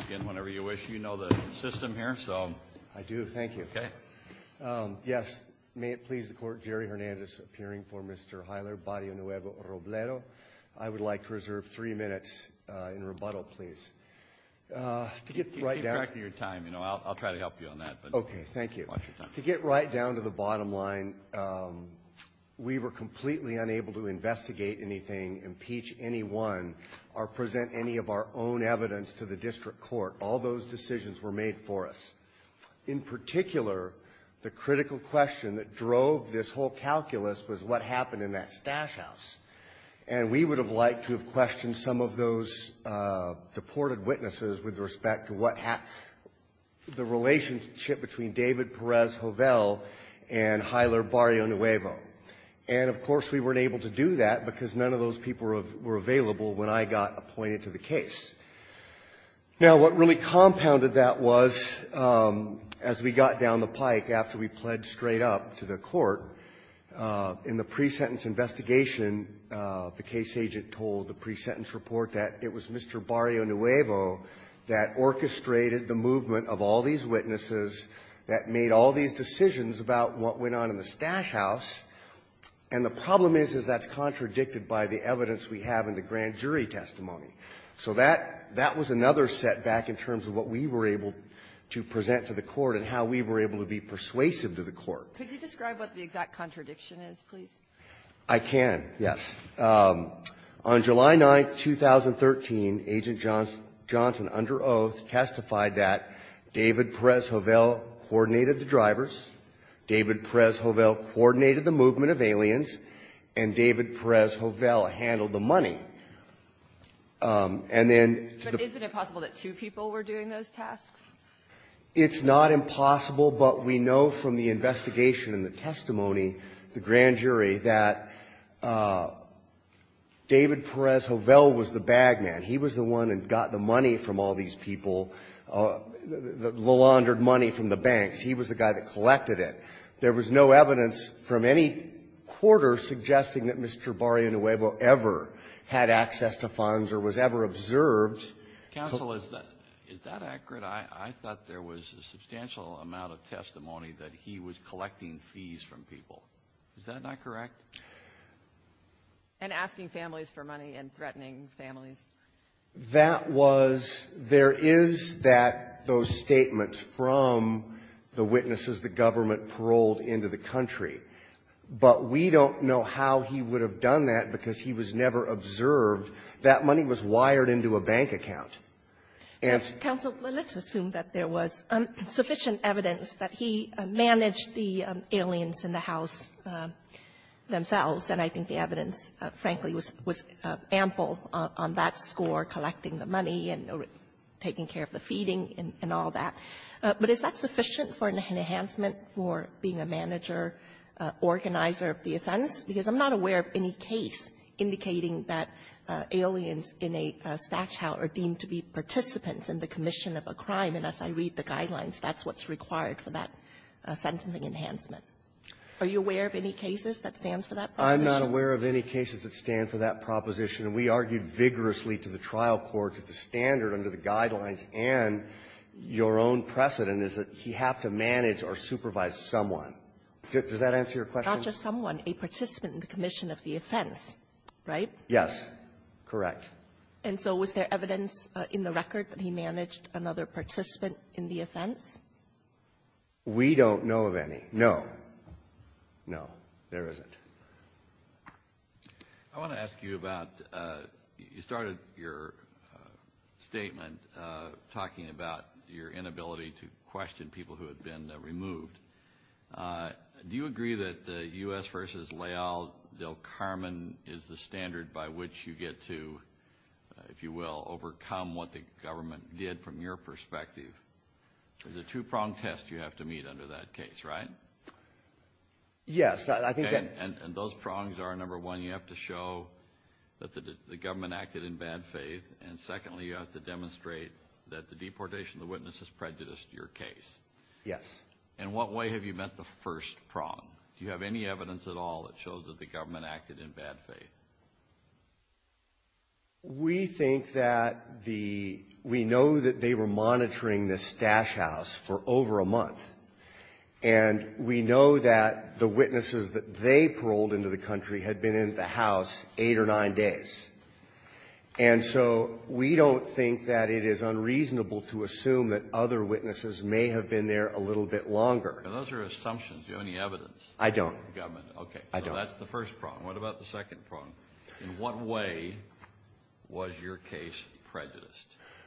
Again, whenever you wish, you know the system here, so... I do, thank you. Okay. Yes, may it please the Court, Jerry Hernandez appearing for Mr. Heiler Barrionuevo-Roblero. I would like to reserve three minutes in rebuttal, please. Keep track of your time. I'll try to help you on that. Okay, thank you. Watch your time. To get right down to the bottom line, we were completely unable to investigate anything, impeach anyone, or present any of our own evidence to the district court. All those decisions were made for us. In particular, the critical question that drove this whole calculus was what happened in that stash house. And we would have liked to have questioned some of those deported witnesses with respect to what happened, the relationship between David Perez-Hovell and Heiler Barrionuevo. And, of course, we weren't able to do that because none of those people were available when I got appointed to the case. Now, what really compounded that was, as we got down the pike after we pled straight up to the court, in the pre-sentence investigation, the case agent told the pre-sentence report that it was Mr. Barrionuevo that orchestrated the movement of all these witnesses that made all these decisions about what went on in the stash house, and the problem is, is that's contradicted by the evidence we have in the grand jury testimony. So that was another setback in terms of what we were able to present to the court and how we were able to be persuasive to the court. Could you describe what the exact contradiction is, please? I can, yes. On July 9th, 2013, Agent Johnson, under oath, testified that David Perez-Hovell coordinated the drivers, David Perez-Hovell coordinated the movement of aliens, and David Perez-Hovell handled the money. And then to the ---- But isn't it possible that two people were doing those tasks? It's not impossible, but we know from the investigation and the testimony, the grand jury, that David Perez-Hovell was the bag man. He was the one that got the money from all these people, the laundered money from the banks. He was the guy that collected it. There was no evidence from any quarter suggesting that Mr. Barrio Nuevo ever had access to funds or was ever observed. Counsel, is that accurate? I thought there was a substantial amount of testimony that he was collecting fees from people. Is that not correct? And asking families for money and threatening families. That was ---- there is that ---- those statements from the witnesses the government paroled into the country, but we don't know how he would have done that because he was never observed. That money was wired into a bank account. And ---- Counsel, let's assume that there was sufficient evidence that he managed the aliens in the house themselves, and I think the evidence, frankly, was ample on that score, collecting the money and taking care of the feeding and all that. But is that sufficient for an enhancement for being a manager, organizer of the offense? Because I'm not aware of any case indicating that aliens in a statute are deemed to be participants in the commission of a crime. And as I read the guidelines, that's what's required for that sentencing enhancement. Are you aware of any cases that stand for that proposition? I'm not aware of any cases that stand for that proposition. And we argued vigorously to the trial court that the standard under the guidelines and your own precedent is that he have to manage or supervise someone. Does that answer your question? Not just someone. A participant in the commission of the offense, right? Yes. Correct. And so was there evidence in the record that he managed another participant in the offense? We don't know of any. No. No, there isn't. I want to ask you about, you started your statement talking about your inability to question people who have been removed. Do you agree that the U.S. versus Leal del Carmen is the standard by which you get to, if you will, overcome what the government did from your perspective? There's a two-prong test you have to meet under that case, right? Yes, I think that... And those prongs are, number one, you have to show that the government acted in bad faith, and secondly, you have to demonstrate that the deportation of the witness has prejudiced your case. Yes. In what way have you met the first prong? Do you have any evidence at all that shows that the government acted in bad faith? We think that the we know that they were monitoring this stash house for over a month, and we know that the witnesses that they paroled into the country had been in the house eight or nine days. And so we don't think that it is unreasonable to assume that other witnesses may have been there a little bit longer. And those are assumptions. Do you have any evidence? I don't. Government. Okay. I don't. So that's the first prong. What about the second prong? In what way was your case prejudiced?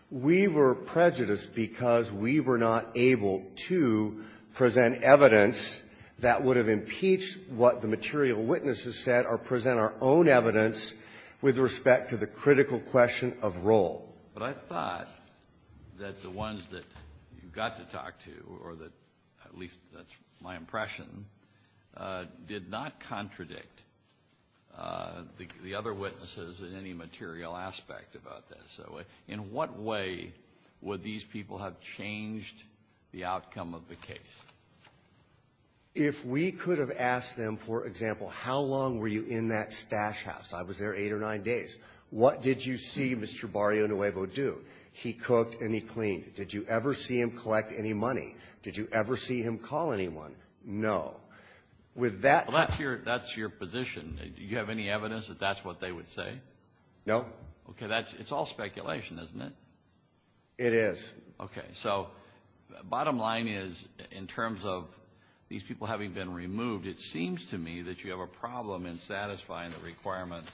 We were prejudiced because we were not able to present evidence that would have impeached what the material witnesses said or present our own evidence with respect to the critical question of role. But I thought that the ones that you got to talk to, or that at least that's my impression, did not contradict the other witnesses in any material aspect about this. So in what way would these people have changed the outcome of the case? If we could have asked them, for example, how long were you in that stash house? I was there eight or nine days. What did you see Mr. Barrio Nuevo do? He cooked and he cleaned. Did you ever see him collect any money? Did you ever see him call anyone? No. Well, that's your position. Do you have any evidence that that's what they would say? No. Okay. It's all speculation, isn't it? It is. Okay. So bottom line is, in terms of these people having been removed, it seems to me that you have a problem in satisfying the requirements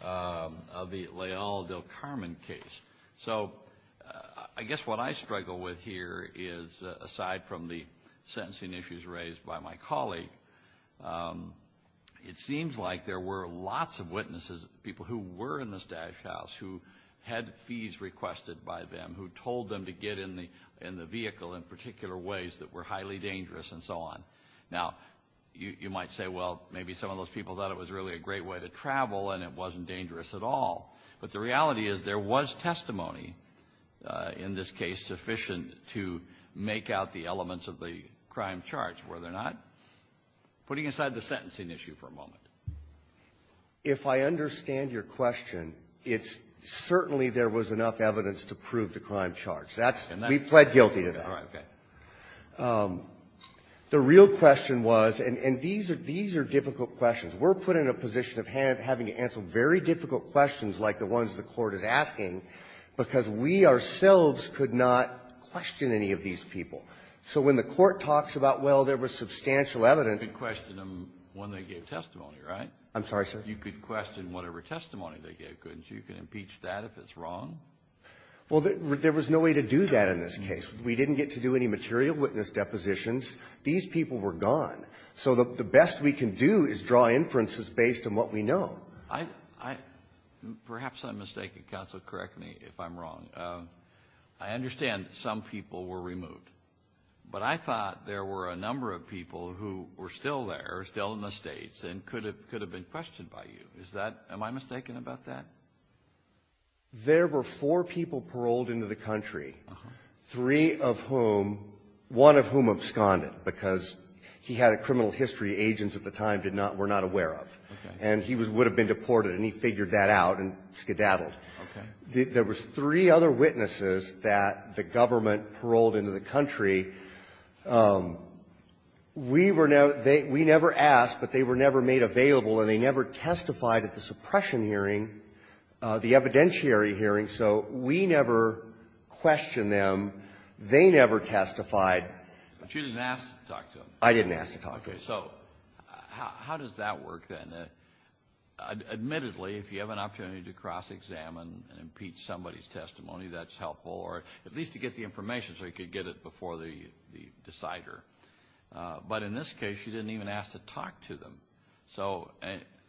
of the Leal del Carmen case. So I guess what I struggle with here is, aside from the sentencing issues raised by my colleague, it seems like there were lots of witnesses, people who were in the stash house, who had fees requested by them, who told them to get in the vehicle in particular ways that were highly dangerous and so on. Now, you might say, well, maybe some of those people thought it was really a great way to travel and it wasn't dangerous at all. But the reality is there was testimony in this case sufficient to make out the elements of the crime charge, were there not? Putting aside the sentencing issue for a moment. If I understand your question, it's certainly there was enough evidence to prove the crime charge. That's — And that's — We pled guilty to that. All right. Okay. The real question was — and these are — these are difficult questions. We're put in a position of having to answer very difficult questions like the ones the Court is asking because we ourselves could not question any of these people. So when the Court talks about, well, there was substantial evidence — You could question them when they gave testimony, right? I'm sorry, sir? You could question whatever testimony they gave, couldn't you? You can impeach that if it's wrong? Well, there was no way to do that in this case. We didn't get to do any material witness depositions. These people were gone. So the best we can do is draw inferences based on what we know. I — perhaps I'm mistaken. Counsel, correct me if I'm wrong. I understand that some people were removed. But I thought there were a number of people who were still there, still in the States, and could have — could have been questioned by you. Is that — am I mistaken about that? There were four people paroled into the country, three of whom — one of whom absconded because he had a criminal history agents at the time did not — were not aware of. Okay. And he was — would have been deported, and he figured that out and skedaddled. Okay. There was three other witnesses that the government paroled into the country. We were never — they — we never asked, but they were never made available, and they never testified at the suppression hearing, the evidentiary hearing. So we never questioned them. They never testified. But you didn't ask to talk to them. I didn't ask to talk to them. So how does that work, then? Admittedly, if you have an opportunity to cross-examine and impeach somebody's testimony, that's helpful, or at least to get the information so you could get it before the decider. But in this case, you didn't even ask to talk to them. So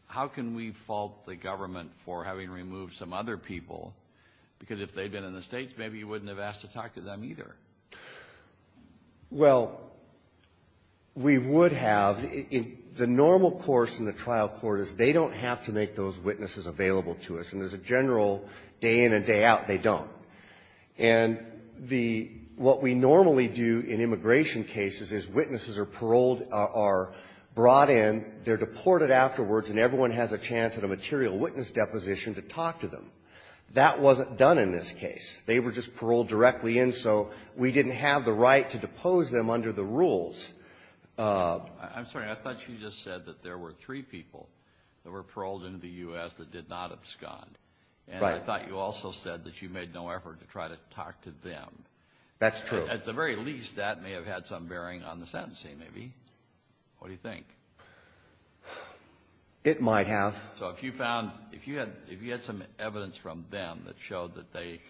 how can we fault the government for having removed some other people? Because if they'd been in the States, maybe you wouldn't have asked to talk to them either. Well, we would have. The normal course in the trial court is they don't have to make those witnesses available to us. And as a general day-in and day-out, they don't. And the — what we normally do in immigration cases is witnesses are paroled — are brought in, they're deported afterwards, and everyone has a chance at a material witness deposition to talk to them. That wasn't done in this case. They were just paroled directly in, so we didn't have the right to depose them under the rules. I'm sorry. I thought you just said that there were three people that were paroled in the U.S. that did not abscond. Right. And I thought you also said that you made no effort to try to talk to them. That's true. At the very least, that may have had some bearing on the sentencing, maybe. What do you think? It might have. So if you found — if you had some evidence from them that showed that they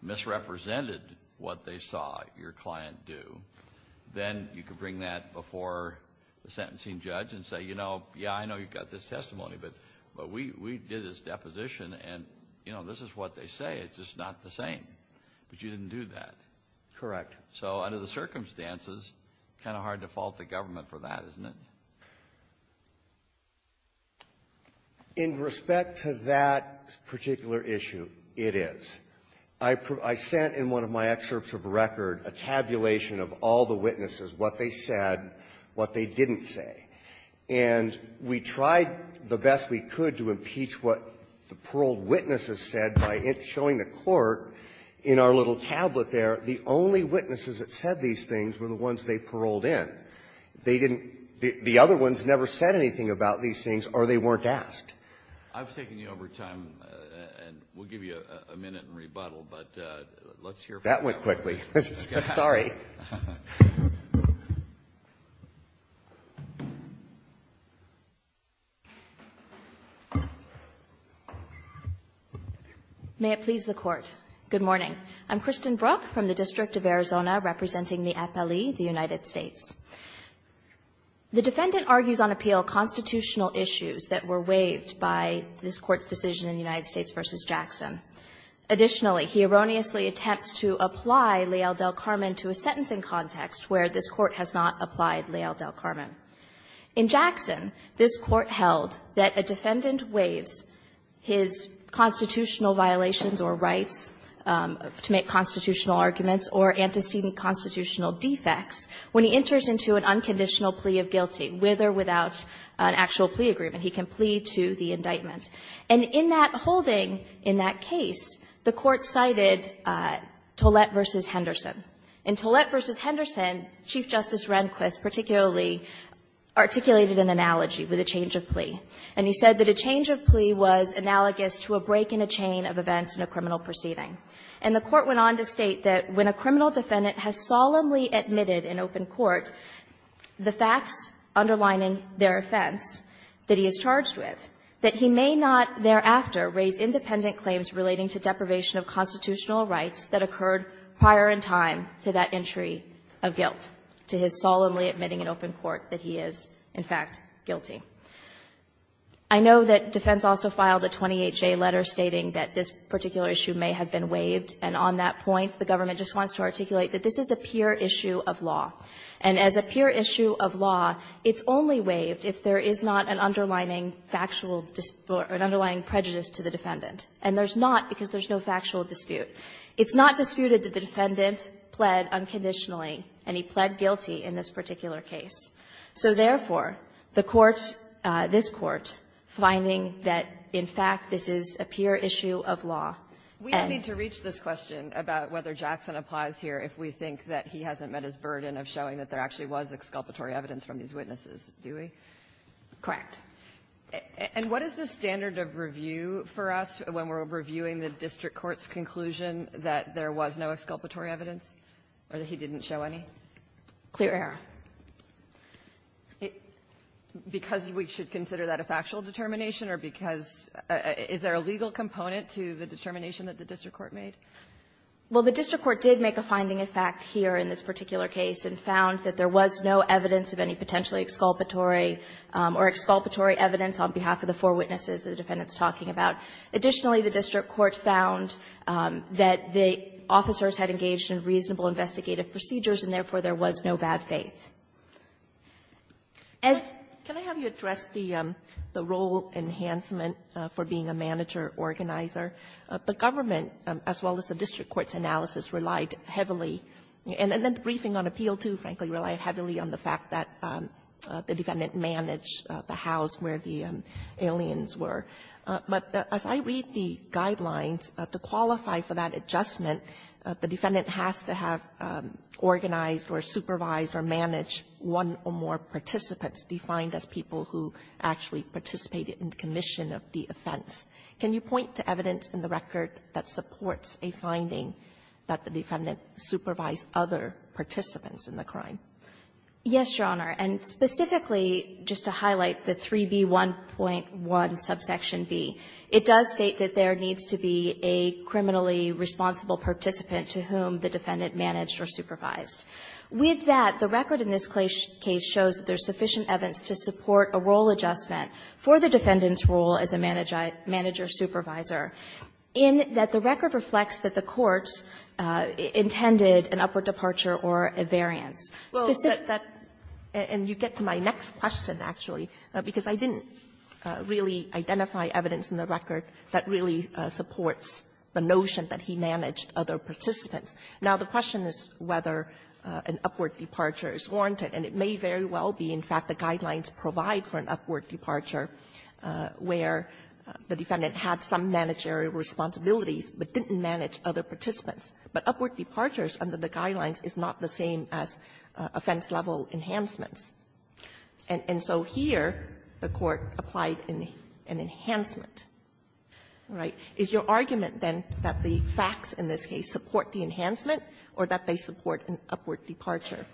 misrepresented what they saw your client do, then you could bring that before the sentencing judge and say, you know, yeah, I know you've got this testimony, but we did this deposition, and, you know, this is what they say. It's just not the same. But you didn't do that. Correct. So under the circumstances, kind of hard to fault the government for that, isn't it? In respect to that particular issue, it is. I sent, in one of my excerpts of record, a tabulation of all the witnesses, what they said, what they didn't say. And we tried the best we could to impeach what the paroled witnesses said by showing the Court in our little tablet there, the only witnesses that said these things were the ones they paroled in. They didn't — the other ones never said anything about these things, or they weren't asked. I've taken you over time, and we'll give you a minute in rebuttal, but let's hear from you. That went quickly. Sorry. May it please the Court. Good morning. I'm Kristen Brook from the District of Arizona, representing the FLE, the United States. The defendant argues on appeal constitutional issues that were waived by this Court's decision in United States v. Jackson. Additionally, he erroneously attempts to apply Leal del Carmen to a sentencing context where this Court has not applied Leal del Carmen. In Jackson, this Court held that a defendant waives his constitutional violations or rights to make constitutional arguments or antecedent constitutional defects when he enters into an unconditional plea of guilty, with or without an actual plea agreement. He can plea to the indictment. And in that holding, in that case, the Court cited Tollett v. Henderson. In Tollett v. Henderson, Chief Justice Rehnquist particularly articulated an analogy with a change of plea. And he said that a change of plea was analogous to a break in a chain of events in a criminal proceeding. And the Court went on to state that when a criminal defendant has solemnly admitted an open court, the facts underlining their offense that he is charged with, that he may not thereafter raise independent claims relating to deprivation of constitutional rights that occurred prior in time to that entry of guilt, to his solemnly admitting an open court that he is, in fact, guilty. I know that defense also filed a 28-J letter stating that this particular issue may have been waived. And on that point, the government just wants to articulate that this is a pure issue of law. And as a pure issue of law, it's only waived if there is not an underlining factual or an underlying prejudice to the defendant. And there's not because there's no factual dispute. It's not disputed that the defendant pled unconditionally, and he pled guilty in this particular case. So therefore, the Court's, this Court, finding that, in fact, this is a pure issue of law. And we need to reach this question about whether Jackson applies here if we think that he hasn't met his burden of showing that there actually was exculpatory evidence from these witnesses, do we? Correct. And what is the standard of review for us when we're reviewing the district court's conclusion that there was no exculpatory evidence, or that he didn't show any? Clear. Because we should consider that a factual determination, or because is there a legal component to the determination that the district court made? Well, the district court did make a finding, in fact, here in this particular case, and found that there was no evidence of any potentially exculpatory or exculpatory evidence on behalf of the four witnesses that the defendant's talking about. Additionally, the district court found that the officers had engaged in reasonable investigative procedures, and therefore, there was no bad faith. The government, as well as the district court's analysis, relied heavily, and then the briefing on appeal, too, frankly, relied heavily on the fact that the defendant managed the house where the aliens were. But as I read the guidelines, to qualify for that adjustment, the defendant has to have organized or supervised or managed one or more participants defined as people who actually participated in the commission of the offense. Can you point to evidence in the record that supports a finding that the defendant supervised other participants in the crime? Yes, Your Honor. And specifically, just to highlight the 3B1.1 subsection B, it does state that there needs to be a criminally responsible participant to whom the defendant managed or supervised. With that, the record in this case shows that there's sufficient evidence to support a role adjustment for the defendant's role as a manager supervisor, in that the record reflects that the court intended an upward departure or a variance. Well, that — and you get to my next question, actually, because I didn't really identify evidence in the record that really supports the notion that he managed other participants. Now, the question is whether an upward departure is warranted, and it may very well be, in fact, the guidelines provide for an upward departure where the defendant had some managerial responsibilities but didn't manage other participants. But upward departures under the guidelines is not the same as offense-level enhancements. And so here, the Court applied an enhancement, right? Is your argument, then, that the facts in this case support the enhancement or that they support an upward departure,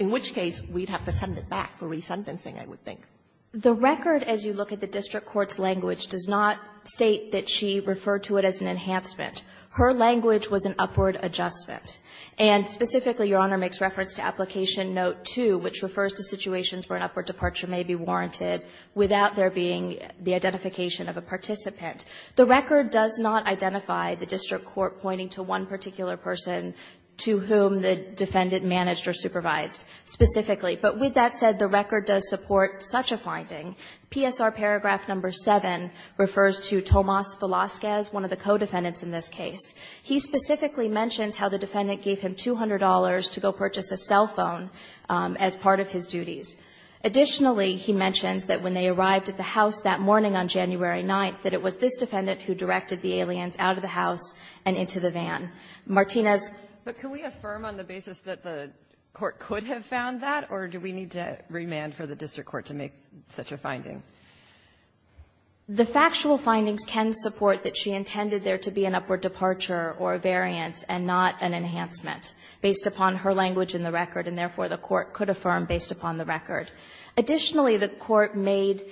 in which case we'd have to send it back for resentencing, I would think? The record, as you look at the district court's language, does not state that she referred to it as an enhancement. Her language was an upward adjustment. And specifically, Your Honor makes reference to Application Note 2, which refers to situations where an upward departure may be warranted without there being the identification of a participant. The record does not identify the district court pointing to one particular person to whom the defendant managed or supervised specifically. But with that said, the record does support such a finding. PSR Paragraph Number 7 refers to Tomas Velasquez, one of the co-defendants in this case. He specifically mentions how the defendant gave him $200 to go purchase a cell phone as part of his duties. Additionally, he mentions that when they arrived at the house that morning on January 9th, that it was this defendant who directed the aliens out of the house and into the van. Martinez. But can we affirm on the basis that the court could have found that, or do we need to remand for the district court to make such a finding? The factual findings can support that she intended there to be an upward departure or a variance and not an enhancement based upon her language in the record, and therefore, the court could affirm based upon the record. Additionally, the court made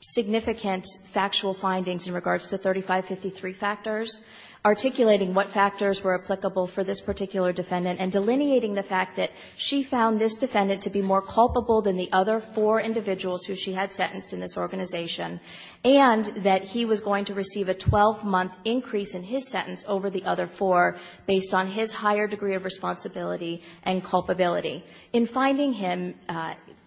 significant factual findings in regards to 3553 factors articulating what factors were applicable for this particular defendant and delineating the fact that she found this defendant to be more culpable than the other four individuals who she had sentenced in this organization, and that he was going to receive a 12-month increase in his sentence over the other four based on his higher degree of responsibility and culpability. In finding him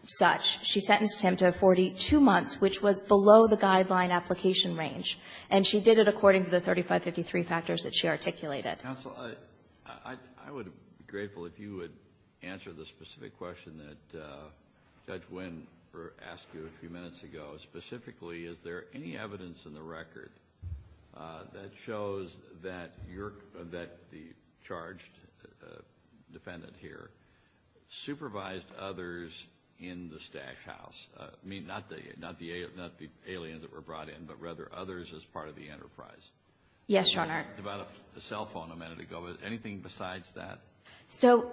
such, she sentenced him to 42 months, which was below the guideline application range. And she did it according to the 3553 factors that she articulated. Kennedy. Counsel, I would be grateful if you would answer the specific question that Judge Wynn asked you a few minutes ago. Specifically, is there any evidence in the record that shows that your or that the charged defendant here supervised others in the Stash House? I mean, not the aliens that were brought in, but rather others as part of the enterprise. Yes, Your Honor. About a cell phone a minute ago. Anything besides that? So,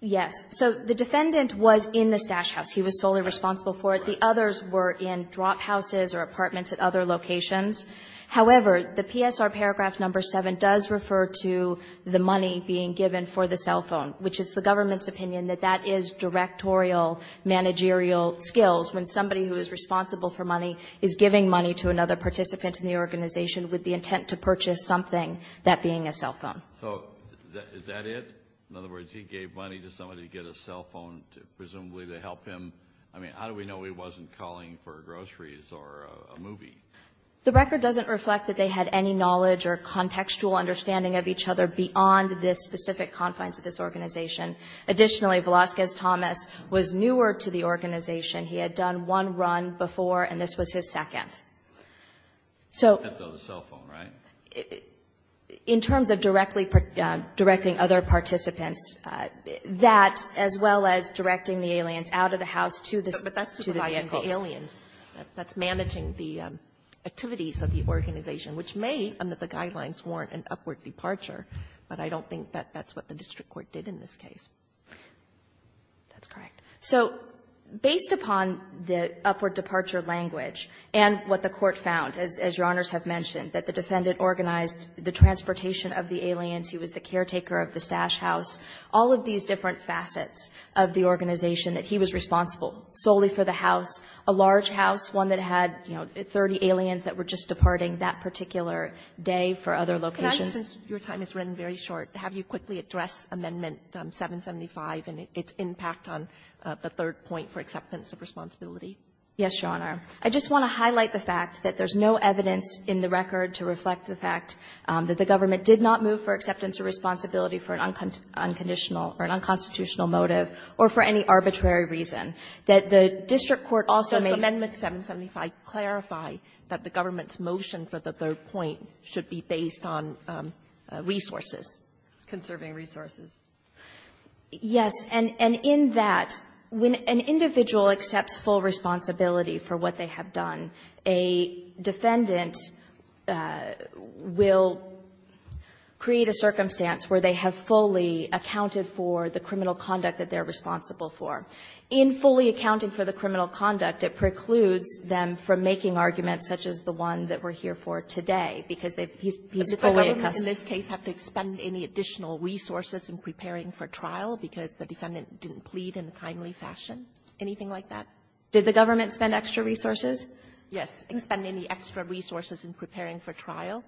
yes. So the defendant was in the Stash House. He was solely responsible for it. The others were in drop houses or apartments at other locations. However, the PSR paragraph number 7 does refer to the money being given for the cell And it reveals, when somebody who is responsible for money is giving money to another participant in the organization with the intent to purchase something, that being a cell phone. So, is that it? In other words, he gave money to somebody to get a cell phone, presumably to help him. I mean, how do we know he wasn't calling for groceries or a movie? The record doesn't reflect that they had any knowledge or contextual understanding of each other beyond the specific confines of this organization. Additionally, Velazquez-Thomas was newer to the organization. He had done one run before, and this was his second. So, in terms of directly directing other participants, that, as well as directing the aliens out of the house to the aliens, that's managing the activities of the organization, which may, under the guidelines, warrant an upward departure. But I don't think that that's what the district court did in this case. That's correct. So, based upon the upward departure language and what the court found, as Your Honors have mentioned, that the defendant organized the transportation of the aliens, he was the caretaker of the stash house, all of these different facets of the organization that he was responsible solely for the house, a large house, one that had, you know, 30 aliens that were just departing that particular day for other locations. Sotomayor, since your time is running very short, have you quickly addressed Amendment 775 and its impact on the third point for acceptance of responsibility? Yes, Your Honor. I just want to highlight the fact that there's no evidence in the record to reflect the fact that the government did not move for acceptance of responsibility for an unconditional or an unconstitutional motive or for any arbitrary reason. That the district court also made the case that the government's motion for the third point should be based on resources, conserving resources. Yes. And in that, when an individual accepts full responsibility for what they have done, a defendant will create a circumstance where they have fully accounted for the criminal conduct that they're responsible for. In fully accounting for the criminal conduct, it precludes them from making arguments such as the one that we're here for today, because they've been fully accustomed. Does the government in this case have to expend any additional resources in preparing for trial because the defendant didn't plead in a timely fashion, anything like that? Did the government spend extra resources? Yes. Expend any extra resources in preparing for trial?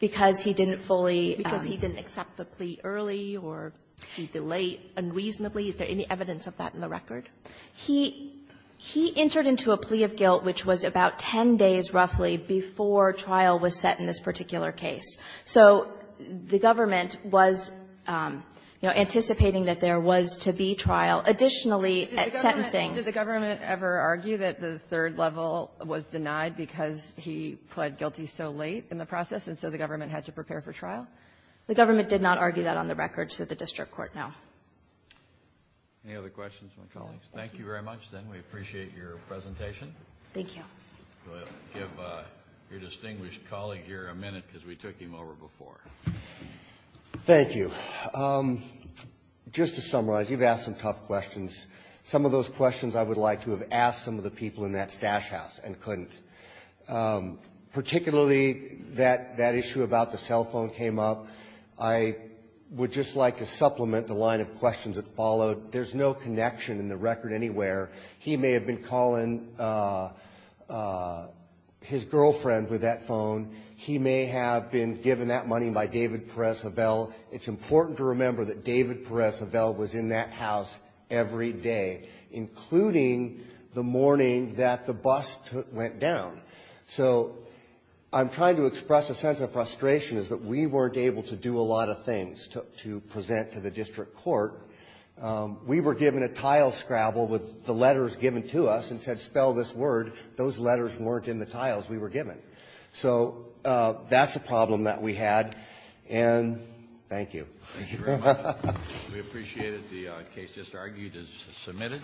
Because he didn't fully — Because he didn't accept the plea early or he delayed unreasonably. Is there any evidence of that in the record? He — he entered into a plea of guilt, which was about 10 days roughly, before trial was set in this particular case. So the government was, you know, anticipating that there was to be trial. Additionally, at sentencing — Did the government ever argue that the third level was denied because he pled guilty so late in the process, and so the government had to prepare for trial? The government did not argue that on the record, so the district court, no. Any other questions from my colleagues? Thank you very much, Zinn. We appreciate your presentation. Thank you. We'll give your distinguished colleague here a minute, because we took him over before. Thank you. Just to summarize, you've asked some tough questions. Some of those questions I would like to have asked some of the people in that stash house and couldn't. Particularly that — that issue about the cell phone came up. I would just like to supplement the line of questions that followed. There's no connection in the record anywhere. He may have been calling his girlfriend with that phone. He may have been given that money by David Perez-Havel. It's important to remember that David Perez-Havel was in that house every day, including the morning that the bust went down. So I'm trying to express a sense of frustration is that we weren't able to do a lot of things to — to present to the district court. We were given a tile scrabble with the letters given to us and said, spell this word. Those letters weren't in the tiles we were given. So that's a problem that we had. And thank you. Thank you very much. We appreciate it. The case just argued is submitted.